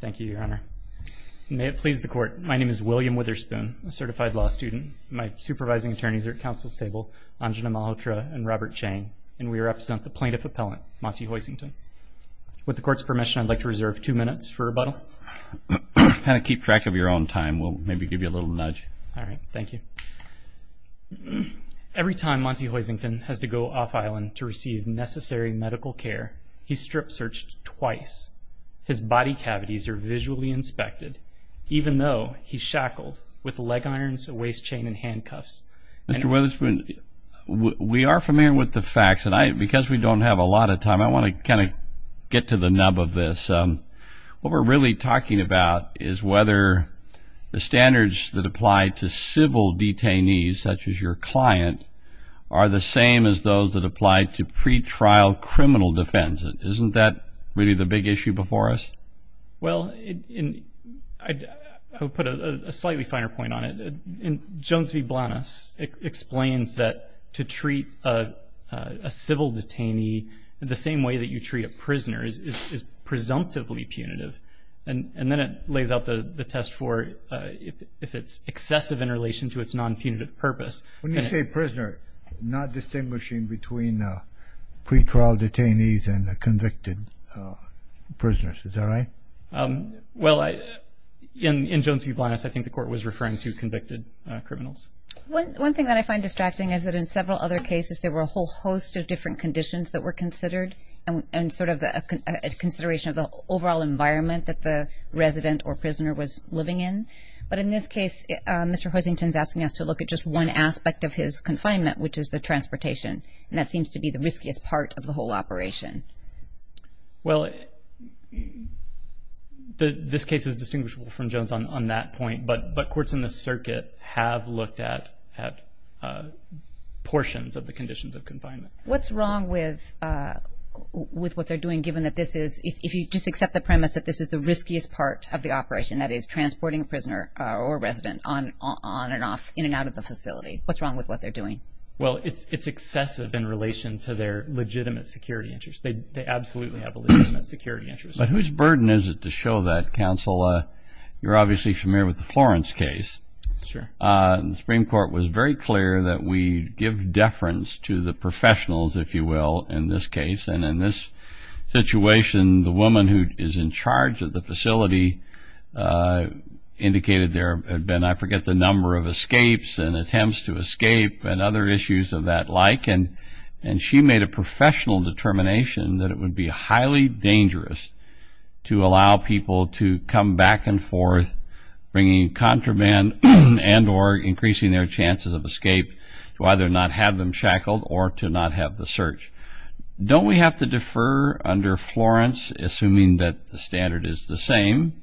Thank you, Your Honor. May it please the Court, my name is William Witherspoon, a certified law student. My supervising attorneys are at counsel's table, Anjana Malhotra and Robert Chang, and we represent the plaintiff appellant, Monty Hoisington. With the Court's permission, I'd like to reserve two minutes for rebuttal. Kind of keep track of your own time. We'll maybe give you a little nudge. All right. Thank you. Every time Monty Hoisington has to go off-island to receive necessary medical care, he's strip-searched twice. His body cavities are visually inspected, even though he's shackled with leg irons, a waist chain, and handcuffs. Mr. Witherspoon, we are familiar with the facts, and because we don't have a lot of time, I want to kind of get to the nub of this. What we're really talking about is whether the standards that apply to civil detainees, such as your client, are the same as those that apply to pretrial criminal defense. Isn't that really the big issue before us? Well, I'll put a slightly finer point on it. Jones v. Blanas explains that to treat a civil detainee the same way that you treat a prisoner is presumptively punitive, and then it lays out the test for if it's excessive in relation to its non-punitive purpose. When you say prisoner, not distinguishing between pretrial detainees and convicted prisoners. Is that right? Well, in Jones v. Blanas, I think the court was referring to convicted criminals. One thing that I find distracting is that in several other cases, there were a whole host of different conditions that were considered and sort of a consideration of the overall environment that the resident or prisoner was living in. But in this case, Mr. Hoisington is asking us to look at just one aspect of his confinement, which is the transportation, and that seems to be the riskiest part of the whole operation. Well, this case is distinguishable from Jones on that point, but courts in the circuit have looked at portions of the conditions of confinement. What's wrong with what they're doing, given that this is, if you just accept the premise, that this is the riskiest part of the operation, that is, transporting a prisoner or resident on and off, in and out of the facility? What's wrong with what they're doing? Well, it's excessive in relation to their legitimate security interests. They absolutely have a legitimate security interest. But whose burden is it to show that, counsel? You're obviously familiar with the Florence case. Sure. The Supreme Court was very clear that we give deference to the professionals, if you will, in this case. And in this situation, the woman who is in charge of the facility indicated there had been, I forget, the number of escapes and attempts to escape and other issues of that like. And she made a professional determination that it would be highly dangerous to allow people to come back and forth bringing contraband and or increasing their chances of escape, to either not have them shackled or to not have the search. Don't we have to defer under Florence, assuming that the standard is the same,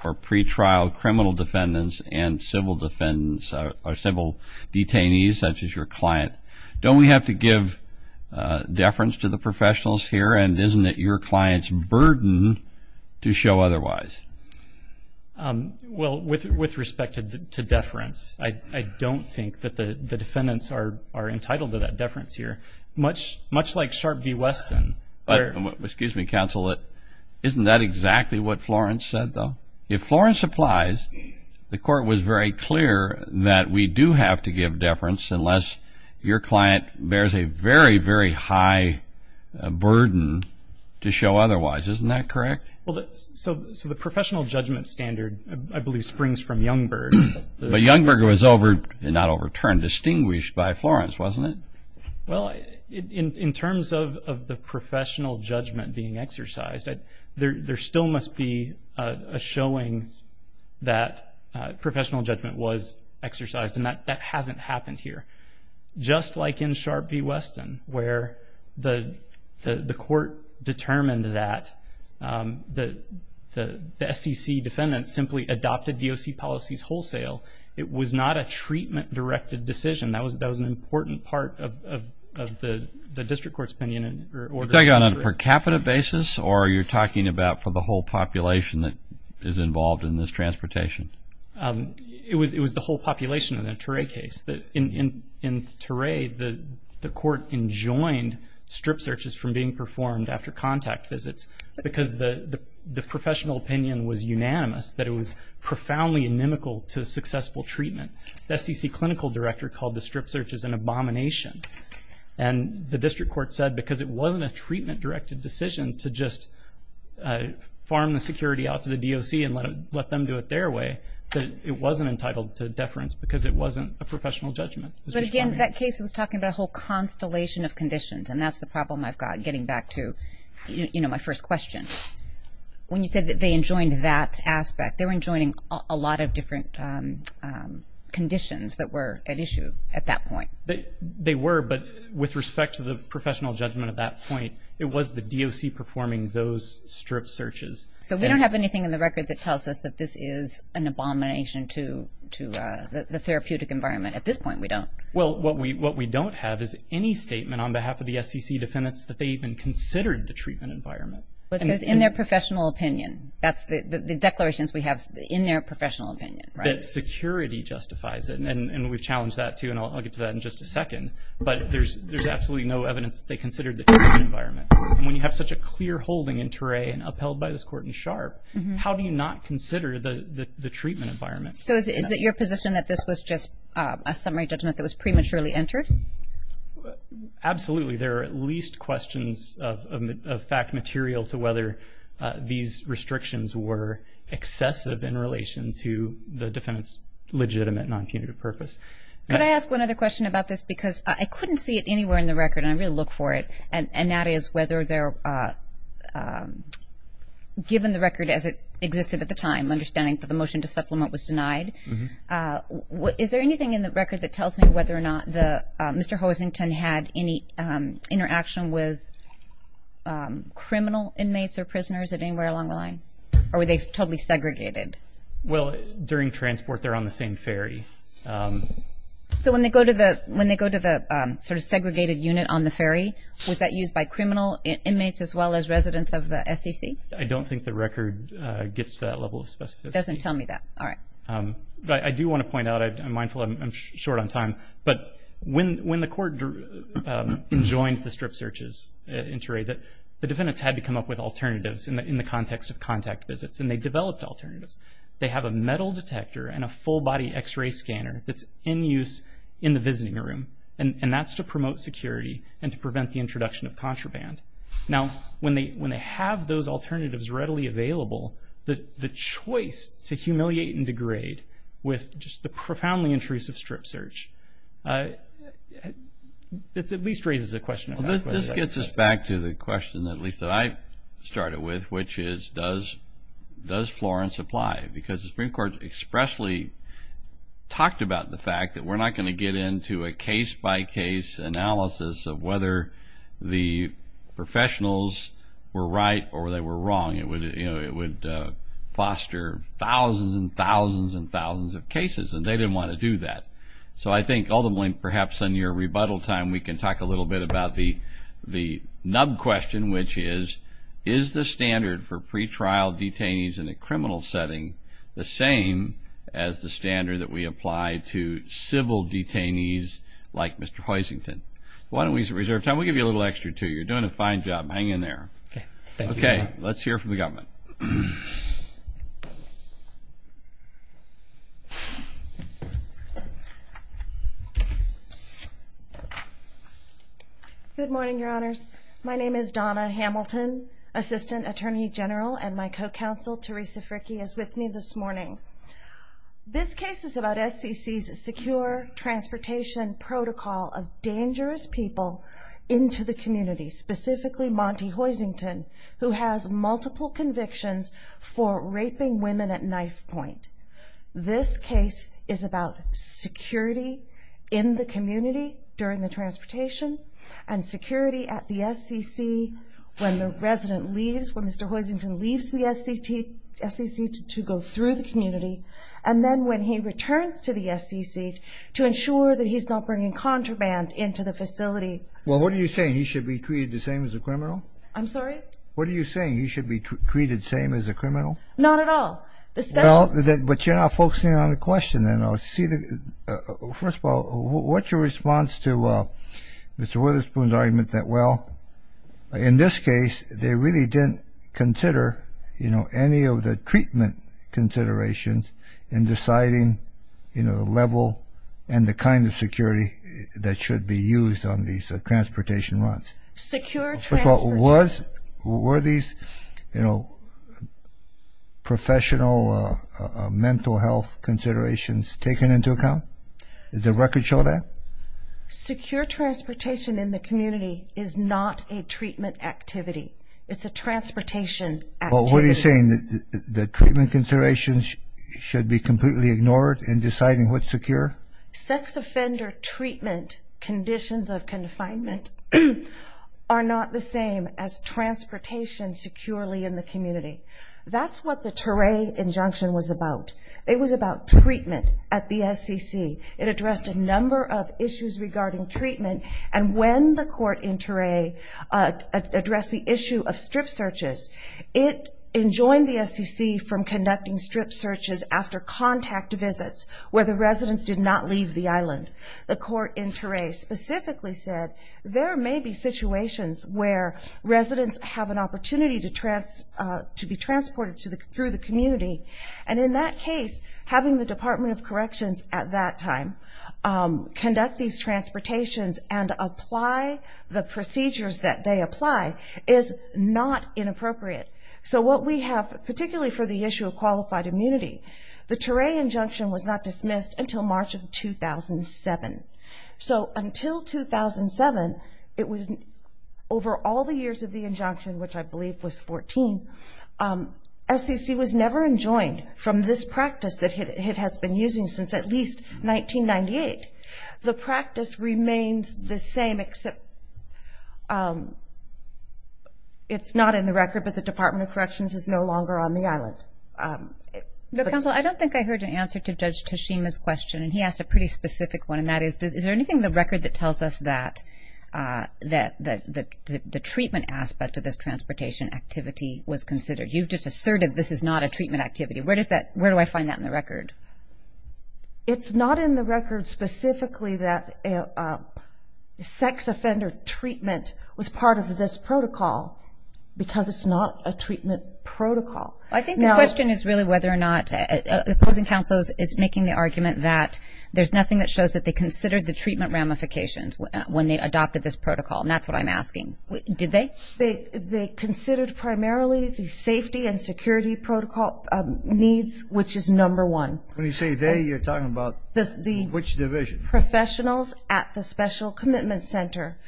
for pretrial criminal defendants and civil defendants or civil detainees, such as your client? Don't we have to give deference to the professionals here? And isn't it your client's burden to show otherwise? Well, with respect to deference, I don't think that the defendants are entitled to that deference here. Much like Sharp v. Weston. Excuse me, counsel. Isn't that exactly what Florence said, though? If Florence applies, the court was very clear that we do have to give deference unless your client bears a very, very high burden to show otherwise. Isn't that correct? Well, so the professional judgment standard, I believe, springs from Youngberg. But Youngberg was over, not overturned, distinguished by Florence, wasn't it? Well, in terms of the professional judgment being exercised, there still must be a showing that professional judgment was exercised, and that hasn't happened here. Just like in Sharp v. Weston, where the court determined that the SEC defendants simply adopted DOC policies wholesale, it was not a treatment-directed decision. That was an important part of the district court's opinion. Was that done on a per capita basis, or are you talking about for the whole population that is involved in this transportation? It was the whole population in the Turay case. In Turay, the court enjoined strip searches from being performed after contact visits, because the professional opinion was unanimous that it was profoundly inimical to successful treatment. The SEC clinical director called the strip searches an abomination, and the district court said because it wasn't a treatment-directed decision to just farm the security out to the DOC and let them do it their way, that it wasn't entitled to deference because it wasn't a professional judgment. But again, that case was talking about a whole constellation of conditions, and that's the problem I've got getting back to my first question. When you said that they enjoined that aspect, they were enjoining a lot of different conditions that were at issue at that point. They were, but with respect to the professional judgment at that point, it was the DOC performing those strip searches. So we don't have anything in the record that tells us that this is an abomination to the therapeutic environment. At this point, we don't. Well, what we don't have is any statement on behalf of the SEC defendants that they even considered the treatment environment. Well, it says in their professional opinion. That's the declarations we have in their professional opinion, right? That security justifies it, and we've challenged that too, and I'll get to that in just a second. But there's absolutely no evidence that they considered the treatment environment. And when you have such a clear holding in Toray and upheld by this court in Sharp, how do you not consider the treatment environment? Absolutely. There are at least questions of fact material to whether these restrictions were excessive in relation to the defendant's legitimate non-punitive purpose. Could I ask one other question about this? Because I couldn't see it anywhere in the record, and I really look for it, and that is whether they're given the record as it existed at the time, understanding that the motion to supplement was denied. Is there anything in the record that tells me whether or not Mr. Hosington had any interaction with criminal inmates or prisoners at anywhere along the line, or were they totally segregated? Well, during transport, they're on the same ferry. So when they go to the sort of segregated unit on the ferry, was that used by criminal inmates as well as residents of the SEC? I don't think the record gets to that level of specificity. It doesn't tell me that. All right. I do want to point out, I'm mindful I'm short on time, but when the court joined the strip searches in Toray, the defendants had to come up with alternatives in the context of contact visits, and they developed alternatives. They have a metal detector and a full-body X-ray scanner that's in use in the visiting room, and that's to promote security and to prevent the introduction of contraband. Now, when they have those alternatives readily available, the choice to humiliate and degrade with just the profoundly intrusive strip search, it at least raises a question. This gets us back to the question at least that I started with, which is, does Florence apply? Because the Supreme Court expressly talked about the fact that we're not going to get into a case-by-case analysis of whether the professionals were right or they were wrong. It would foster thousands and thousands and thousands of cases, and they didn't want to do that. So I think ultimately, perhaps on your rebuttal time, we can talk a little bit about the nub question, which is, is the standard for pretrial detainees in a criminal setting the same as the standard that we apply to civil detainees like Mr. Huizington? Why don't we reserve time? We'll give you a little extra, too. You're doing a fine job. Hang in there. Okay. Let's hear from the government. Good morning, Your Honors. My name is Donna Hamilton, Assistant Attorney General, and my co-counsel, Teresa Fricke, is with me this morning. This case is about SCC's secure transportation protocol of dangerous people into the community, specifically Monty Huizington, who has multiple convictions for raping women at knife point. This case is about security in the community during the transportation and security at the SCC when the resident leaves, when Mr. Huizington leaves the SCC to go through the community, and then when he returns to the SCC to ensure that he's not bringing contraband into the facility. Well, what are you saying? He should be treated the same as a criminal? I'm sorry? What are you saying? He should be treated the same as a criminal? Not at all. Well, but you're not focusing on the question, then. First of all, what's your response to Mr. Witherspoon's argument that, well, in this case, they really didn't consider any of the treatment considerations in deciding the level and the kind of security that should be used on these transportation runs? Secure transportation. First of all, were these professional mental health considerations taken into account? Does the record show that? Secure transportation in the community is not a treatment activity. It's a transportation activity. Well, what are you saying? The treatment considerations should be completely ignored in deciding what's secure? Sex offender treatment conditions of confinement are not the same as transportation securely in the community. That's what the Toray injunction was about. It was about treatment at the SCC. It addressed a number of issues regarding treatment, and when the court in Toray addressed the issue of strip searches, it enjoined the SCC from conducting strip searches after contact visits where the residents did not leave the island. The court in Toray specifically said there may be situations where residents have an opportunity to be transported through the community, and in that case, having the Department of Corrections at that time conduct these transportations and apply the procedures that they apply is not inappropriate. So what we have, particularly for the issue of qualified immunity, the Toray injunction was not dismissed until March of 2007. So until 2007, it was over all the years of the injunction, which I believe was 14, SCC was never enjoined from this practice that it has been using since at least 1998. The practice remains the same except it's not in the record, but the Department of Corrections is no longer on the island. Counsel, I don't think I heard an answer to Judge Tashima's question, and he asked a pretty specific one, and that is, is there anything in the record that tells us that the treatment aspect of this transportation activity was considered? You've just asserted this is not a treatment activity. Where do I find that in the record? It's not in the record specifically that sex offender treatment was part of this protocol because it's not a treatment protocol. I think the question is really whether or not the opposing counsel is making the argument that there's nothing that shows that they considered the treatment ramifications when they adopted this protocol, and that's what I'm asking. Did they? They considered primarily the safety and security protocol needs, which is number one. When you say they, you're talking about which division? The professionals at the Special Commitment Center,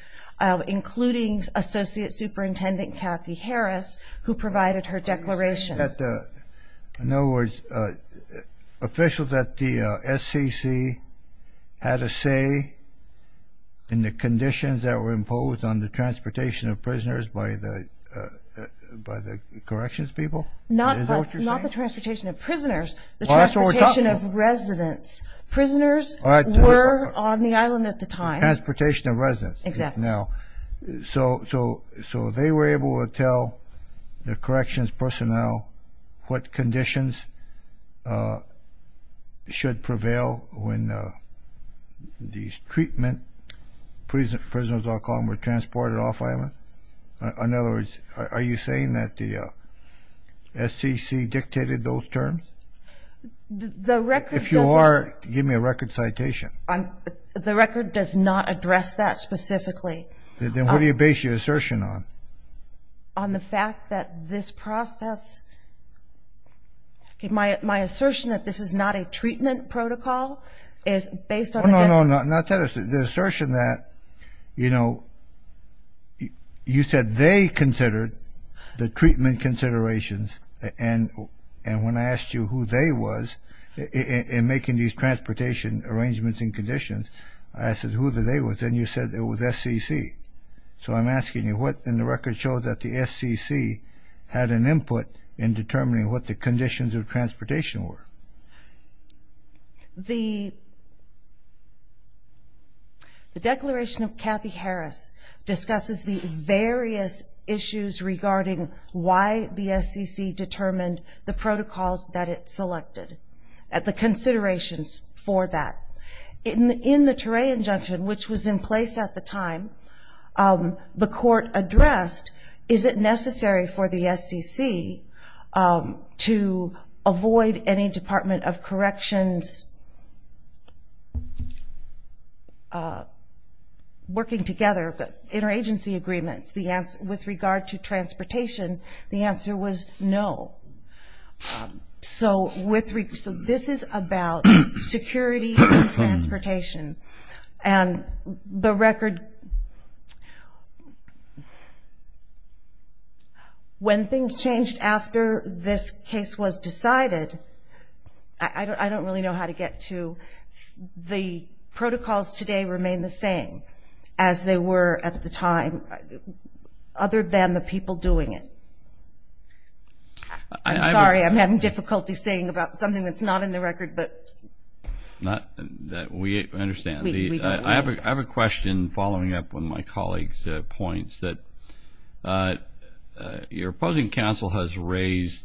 including Associate Superintendent Kathy Harris, who provided her declaration. In other words, officials at the SCC had a say in the conditions that were imposed on the transportation of prisoners by the corrections people? Not the transportation of prisoners, the transportation of residents. Prisoners were on the island at the time. Transportation of residents. Exactly. So they were able to tell the corrections personnel what conditions should prevail when these treatment prisoners, I'll call them, were transported off island? In other words, are you saying that the SCC dictated those terms? If you are, give me a record citation. The record does not address that specifically. Then what do you base your assertion on? On the fact that this process? My assertion that this is not a treatment protocol is based on the fact that? No, no, no. The assertion that, you know, you said they considered the treatment considerations, and when I asked you who they was in making these transportation arrangements and conditions, I said who the they was, and you said it was SCC. So I'm asking you what in the record shows that the SCC had an input in determining what the conditions of transportation were? The Declaration of Kathy Harris discusses the various issues regarding why the SCC determined the protocols that it selected, the considerations for that. In the Torre injunction, which was in place at the time, the court addressed, is it necessary for the SCC to avoid any Department of Corrections working together, interagency agreements with regard to transportation? The answer was no. So this is about security and transportation. And the record, when things changed after this case was decided, I don't really know how to get to, the protocols today remain the same as they were at the time, other than the people doing it. I'm sorry, I'm having difficulty saying about something that's not in the record. We understand. I have a question following up on my colleague's points, that your opposing counsel has raised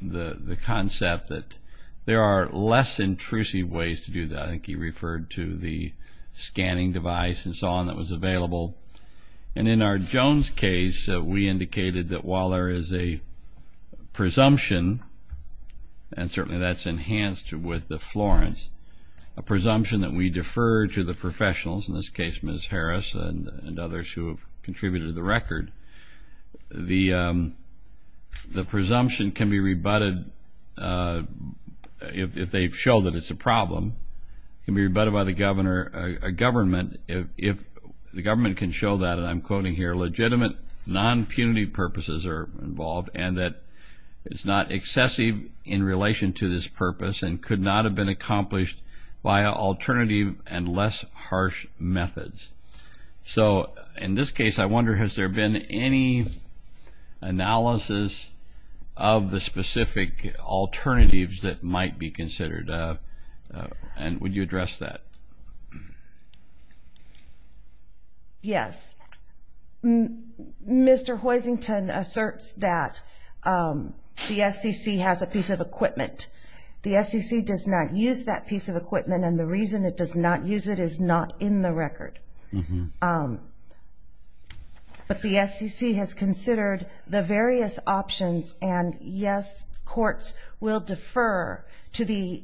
the concept that there are less intrusive ways to do that. I think he referred to the scanning device and so on that was available. And in our Jones case, we indicated that while there is a presumption, and certainly that's enhanced with the Florence, a presumption that we defer to the professionals, in this case Ms. Harris and others who have contributed to the record, the presumption can be rebutted if they show that it's a problem. It can be rebutted by the government if the government can show that, and I'm quoting here, legitimate non-punity purposes are involved and that it's not excessive in relation to this purpose and could not have been accomplished by alternative and less harsh methods. So in this case, I wonder, has there been any analysis of the specific alternatives that might be considered? And would you address that? Yes. Mr. Hoisington asserts that the SEC has a piece of equipment. The SEC does not use that piece of equipment, and the reason it does not use it is not in the record. But the SEC has considered the various options, and yes, courts will defer to the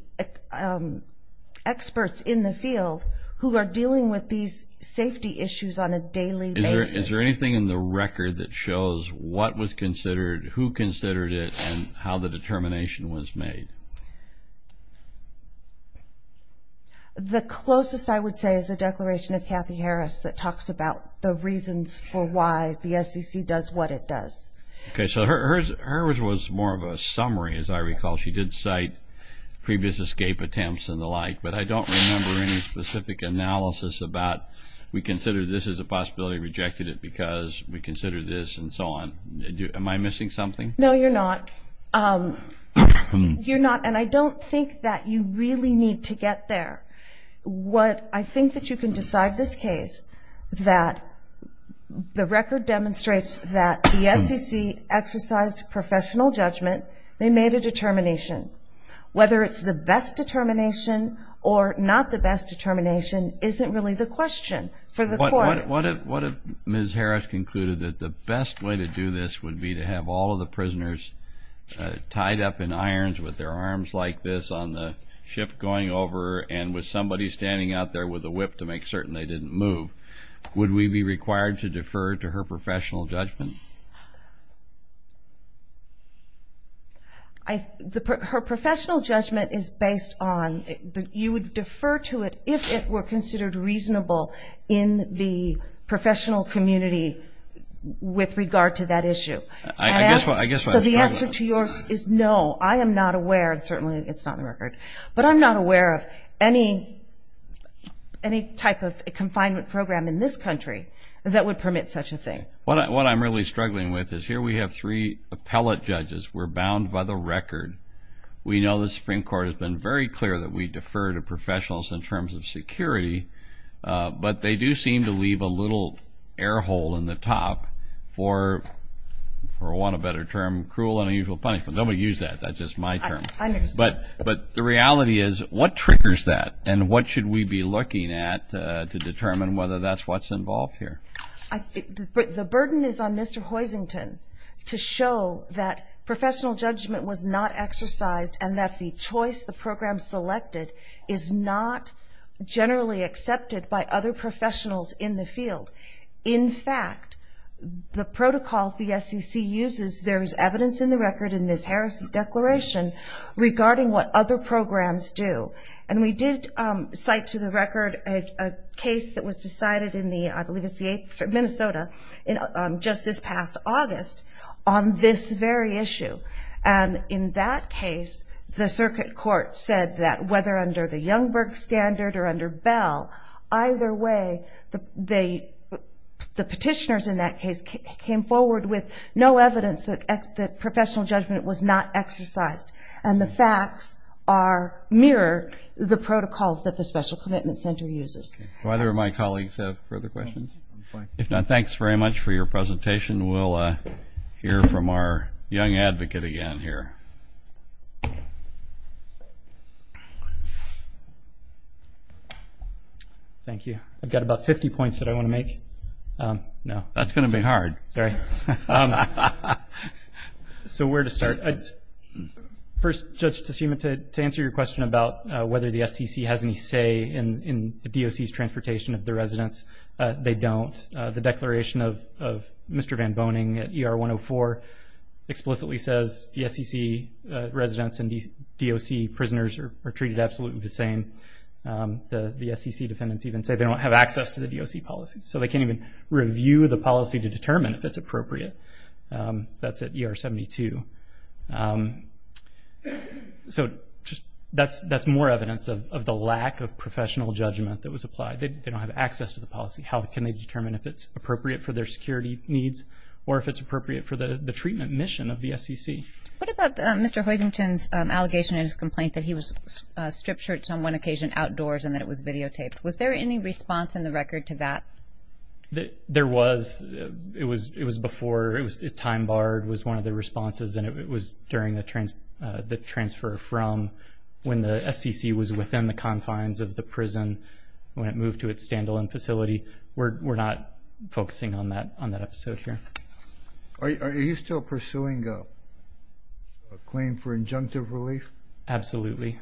experts in the field who are dealing with these safety issues on a daily basis. Is there anything in the record that shows what was considered, who considered it, and how the determination was made? The closest I would say is the declaration of Kathy Harris that talks about the reasons for why the SEC does what it does. Okay, so hers was more of a summary, as I recall. She did cite previous escape attempts and the like, but I don't remember any specific analysis about we consider this as a possibility, rejected it because we consider this, and so on. Am I missing something? No, you're not. And I don't think that you really need to get there. I think that you can decide this case that the record demonstrates that the SEC exercised professional judgment. They made a determination. Whether it's the best determination or not the best determination isn't really the question for the court. What if Ms. Harris concluded that the best way to do this would be to have all of the prisoners tied up in irons with their arms like this on the ship going over and with somebody standing out there with a whip to make certain they didn't move? Would we be required to defer to her professional judgment? Her professional judgment is based on you would defer to it if it were considered reasonable in the professional community with regard to that issue. I guess I have a problem. So the answer to yours is no. I am not aware, and certainly it's not in the record, but I'm not aware of any type of confinement program in this country that would permit such a thing. Okay. What I'm really struggling with is here we have three appellate judges. We're bound by the record. We know the Supreme Court has been very clear that we defer to professionals in terms of security, but they do seem to leave a little air hole in the top for, for want of a better term, cruel and unusual punishment. Don't use that. That's just my term. I understand. But the reality is what triggers that, And what should we be looking at to determine whether that's what's involved here? The burden is on Mr. Hoisington to show that professional judgment was not exercised and that the choice the program selected is not generally accepted by other professionals in the field. In fact, the protocols the SEC uses, there is evidence in the record in Ms. Harris' declaration regarding what other programs do. And we did cite to the record a case that was decided in the, I believe it's the 8th, Minnesota, just this past August on this very issue. And in that case, the circuit court said that whether under the Youngberg standard or under Bell, either way the petitioners in that case came forward with no evidence that professional judgment was not exercised. And the facts mirror the protocols that the Special Commitment Center uses. Do either of my colleagues have further questions? If not, thanks very much for your presentation. We'll hear from our young advocate again here. Thank you. I've got about 50 points that I want to make. That's going to be hard. Sorry. So where to start? First, Judge Teshima, to answer your question about whether the SEC has any say in the DOC's transportation of the residents, they don't. The declaration of Mr. Van Boning at ER 104 explicitly says the SEC residents and DOC prisoners are treated absolutely the same. The SEC defendants even say they don't have access to the DOC policies. So they can't even review the policy to determine if it's appropriate. That's at ER 72. So that's more evidence of the lack of professional judgment that was applied. They don't have access to the policy. How can they determine if it's appropriate for their security needs or if it's appropriate for the treatment mission of the SEC? What about Mr. Huizington's allegation in his complaint that he was stripped shirts on one occasion outdoors and that it was videotaped? Was there any response in the record to that? There was. It was before. Time barred was one of the responses, and it was during the transfer from when the SEC was within the confines of the prison when it moved to its stand-alone facility. We're not focusing on that episode here. Are you still pursuing a claim for injunctive relief? Absolutely.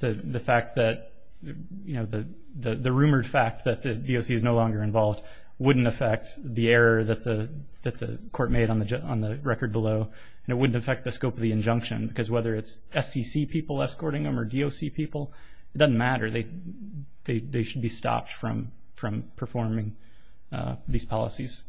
The fact that, you know, the rumored fact that the DOC is no longer involved wouldn't affect the error that the court made on the record below, and it wouldn't affect the scope of the injunction, because whether it's SEC people escorting them or DOC people, it doesn't matter. They should be stopped from performing these policies.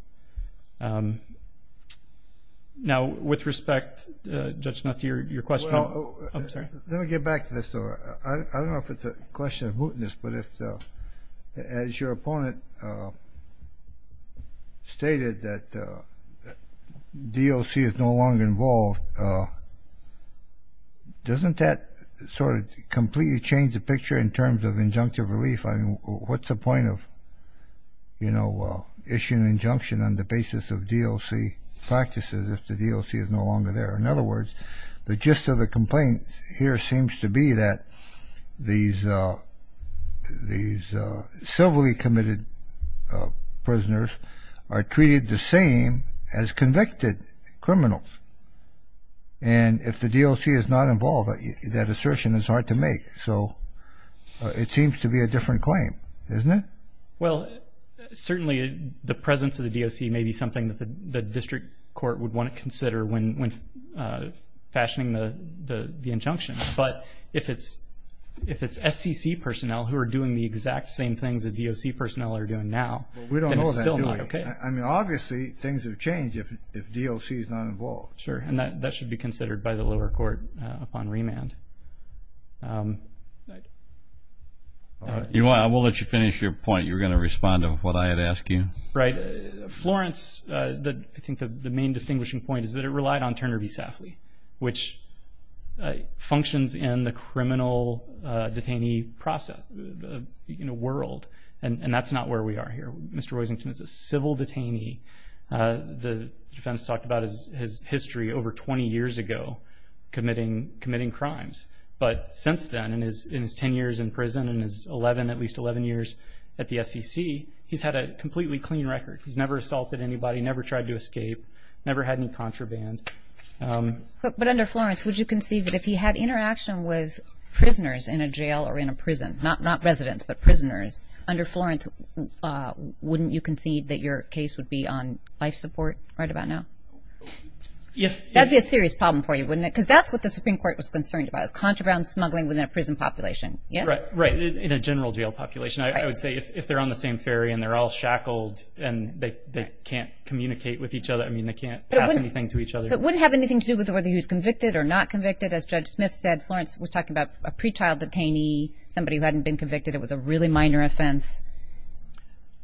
Now, with respect, Judge Smith, to your question. Let me get back to this. I don't know if it's a question of mootness, but as your opponent stated that DOC is no longer involved, doesn't that sort of completely change the picture in terms of injunctive relief? I mean, what's the point of, you know, issuing an injunction on the basis of DOC practices if the DOC is no longer there? In other words, the gist of the complaint here seems to be that these civilly committed prisoners are treated the same as convicted criminals, and if the DOC is not involved, that assertion is hard to make. So it seems to be a different claim, isn't it? Well, certainly the presence of the DOC may be something that the district court would want to consider when fashioning the injunction. But if it's SEC personnel who are doing the exact same things that DOC personnel are doing now, then it's still not okay. Well, we don't know that, do we? I mean, obviously things would change if DOC is not involved. Sure, and that should be considered by the lower court upon remand. I will let you finish your point. You were going to respond to what I had asked you. Florence, I think the main distinguishing point is that it relied on Turner v. Safley, which functions in the criminal detainee world, and that's not where we are here. Mr. Roisington is a civil detainee. The defense talked about his history over 20 years ago committing crimes. But since then, in his 10 years in prison and his 11, at least 11 years at the SEC, he's had a completely clean record. He's never assaulted anybody, never tried to escape, never had any contraband. But under Florence, would you concede that if he had interaction with prisoners in a jail or in a prison, not residents but prisoners, under Florence, wouldn't you concede that your case would be on life support right about now? That would be a serious problem for you, wouldn't it? Because that's what the Supreme Court was concerned about, is contraband smuggling within a prison population, yes? Right, in a general jail population. I would say if they're on the same ferry and they're all shackled and they can't communicate with each other, I mean, they can't pass anything to each other. So it wouldn't have anything to do with whether he was convicted or not convicted. As Judge Smith said, Florence was talking about a pretrial detainee, somebody who hadn't been convicted. It was a really minor offense.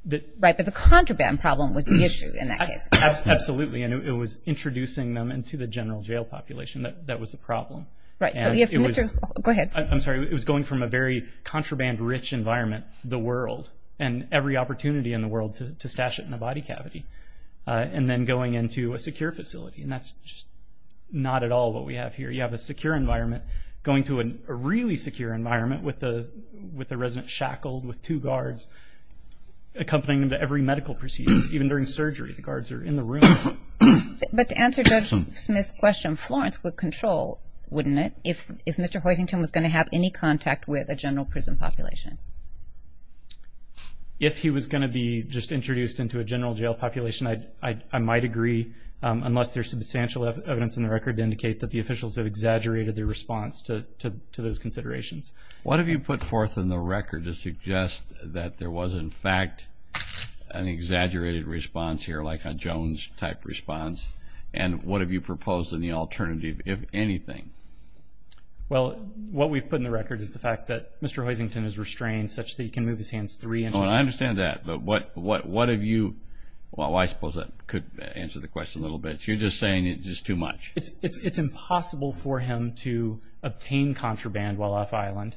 Right, but the contraband problem was the issue in that case. Absolutely, and it was introducing them into the general jail population that was the problem. Right, so if Mr. – go ahead. I'm sorry, it was going from a very contraband-rich environment, the world, and every opportunity in the world to stash it in a body cavity, and then going into a secure facility, and that's just not at all what we have here. You have a secure environment going to a really secure environment with the resident shackled with two guards accompanying them to every medical procedure. Even during surgery, the guards are in the room. But to answer Judge Smith's question, Florence would control, wouldn't it, if Mr. Hoisington was going to have any contact with a general prison population? If he was going to be just introduced into a general jail population, I might agree unless there's substantial evidence in the record to indicate that the officials have exaggerated their response to those considerations. What have you put forth in the record to suggest that there was, in fact, an exaggerated response here like a Jones-type response, and what have you proposed in the alternative, if anything? Well, what we've put in the record is the fact that Mr. Hoisington is restrained such that he can move his hands three inches. I understand that, but what have you, well, I suppose that could answer the question a little bit. You're just saying it's just too much. It's impossible for him to obtain contraband while off-island.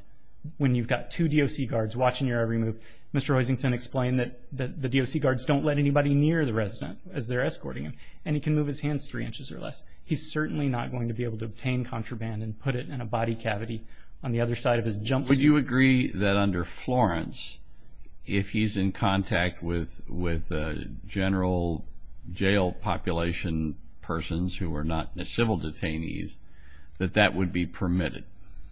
When you've got two DOC guards watching your every move, Mr. Hoisington explained that the DOC guards don't let anybody near the resident as they're escorting him, and he can move his hands three inches or less. He's certainly not going to be able to obtain contraband and put it in a body cavity on the other side of his jumpsuit. Would you agree that under Florence, if he's in contact with general jail population persons who are not civil detainees, that that would be permitted?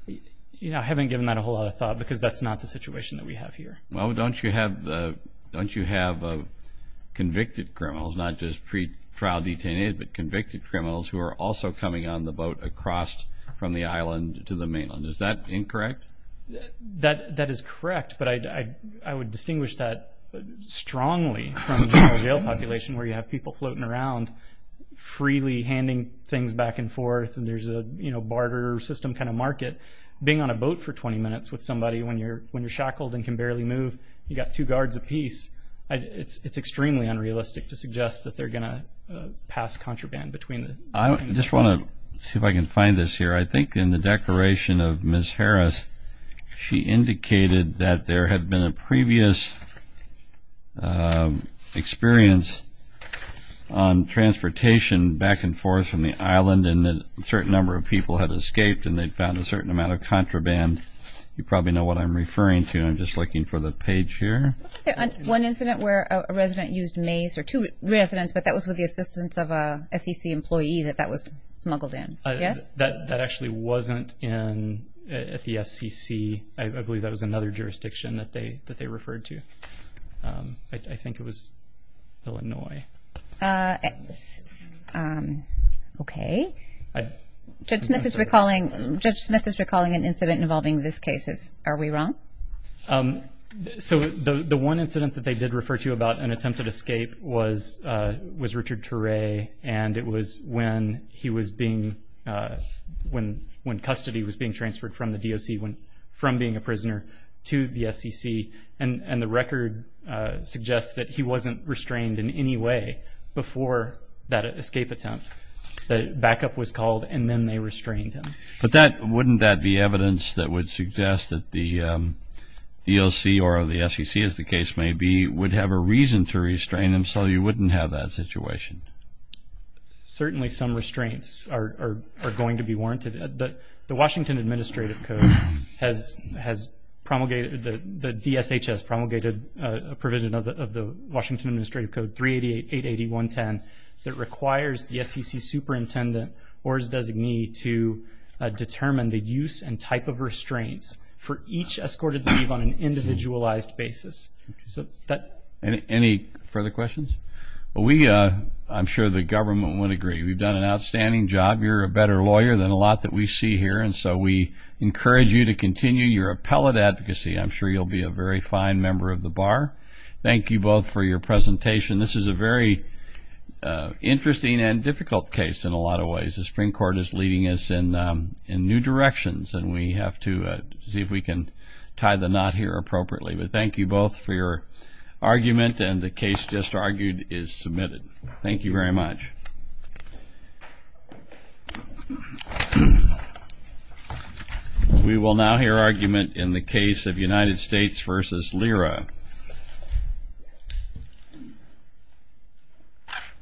You know, I haven't given that a whole lot of thought because that's not the situation that we have here. Well, don't you have convicted criminals, not just pre-trial detainees, but convicted criminals who are also coming on the boat across from the island to the mainland? Is that incorrect? That is correct, but I would distinguish that strongly from general jail population where you have people floating around freely handing things back and forth, and there's a barter system kind of market. Being on a boat for 20 minutes with somebody when you're shackled and can barely move, you've got two guards apiece, it's extremely unrealistic to suggest that they're going to pass contraband between them. I just want to see if I can find this here. I think in the declaration of Ms. Harris, she indicated that there had been a previous experience on transportation back and forth from the island, and a certain number of people had escaped, and they found a certain amount of contraband. You probably know what I'm referring to. I'm just looking for the page here. One incident where a resident used maize, or two residents, but that was with the assistance of an SEC employee that that was smuggled in. That actually wasn't at the SEC. I believe that was another jurisdiction that they referred to. I think it was Illinois. Okay. Judge Smith is recalling an incident involving this case. Are we wrong? The one incident that they did refer to about an attempted escape was Richard Turay, and it was when custody was being transferred from the DOC, from being a prisoner to the SEC, and the record suggests that he wasn't restrained in any way before that escape attempt. The backup was called, and then they restrained him. But wouldn't that be evidence that would suggest that the DOC or the SEC, as the case may be, would have a reason to restrain him, so you wouldn't have that situation? Certainly some restraints are going to be warranted. The Washington Administrative Code has promulgated, the DSHS promulgated a provision of the Washington Administrative Code 388.881.10 that requires the SEC superintendent or his designee to determine the use and type of restraints for each escorted leave on an individualized basis. Any further questions? I'm sure the government would agree. We've done an outstanding job. You're a better lawyer than a lot that we see here, and so we encourage you to continue your appellate advocacy. I'm sure you'll be a very fine member of the bar. Thank you both for your presentation. This is a very interesting and difficult case in a lot of ways. The Supreme Court is leading us in new directions, and we have to see if we can tie the knot here appropriately. But thank you both for your argument, and the case just argued is submitted. Thank you very much. Thank you. We will now hear argument in the case of United States v. Lyra.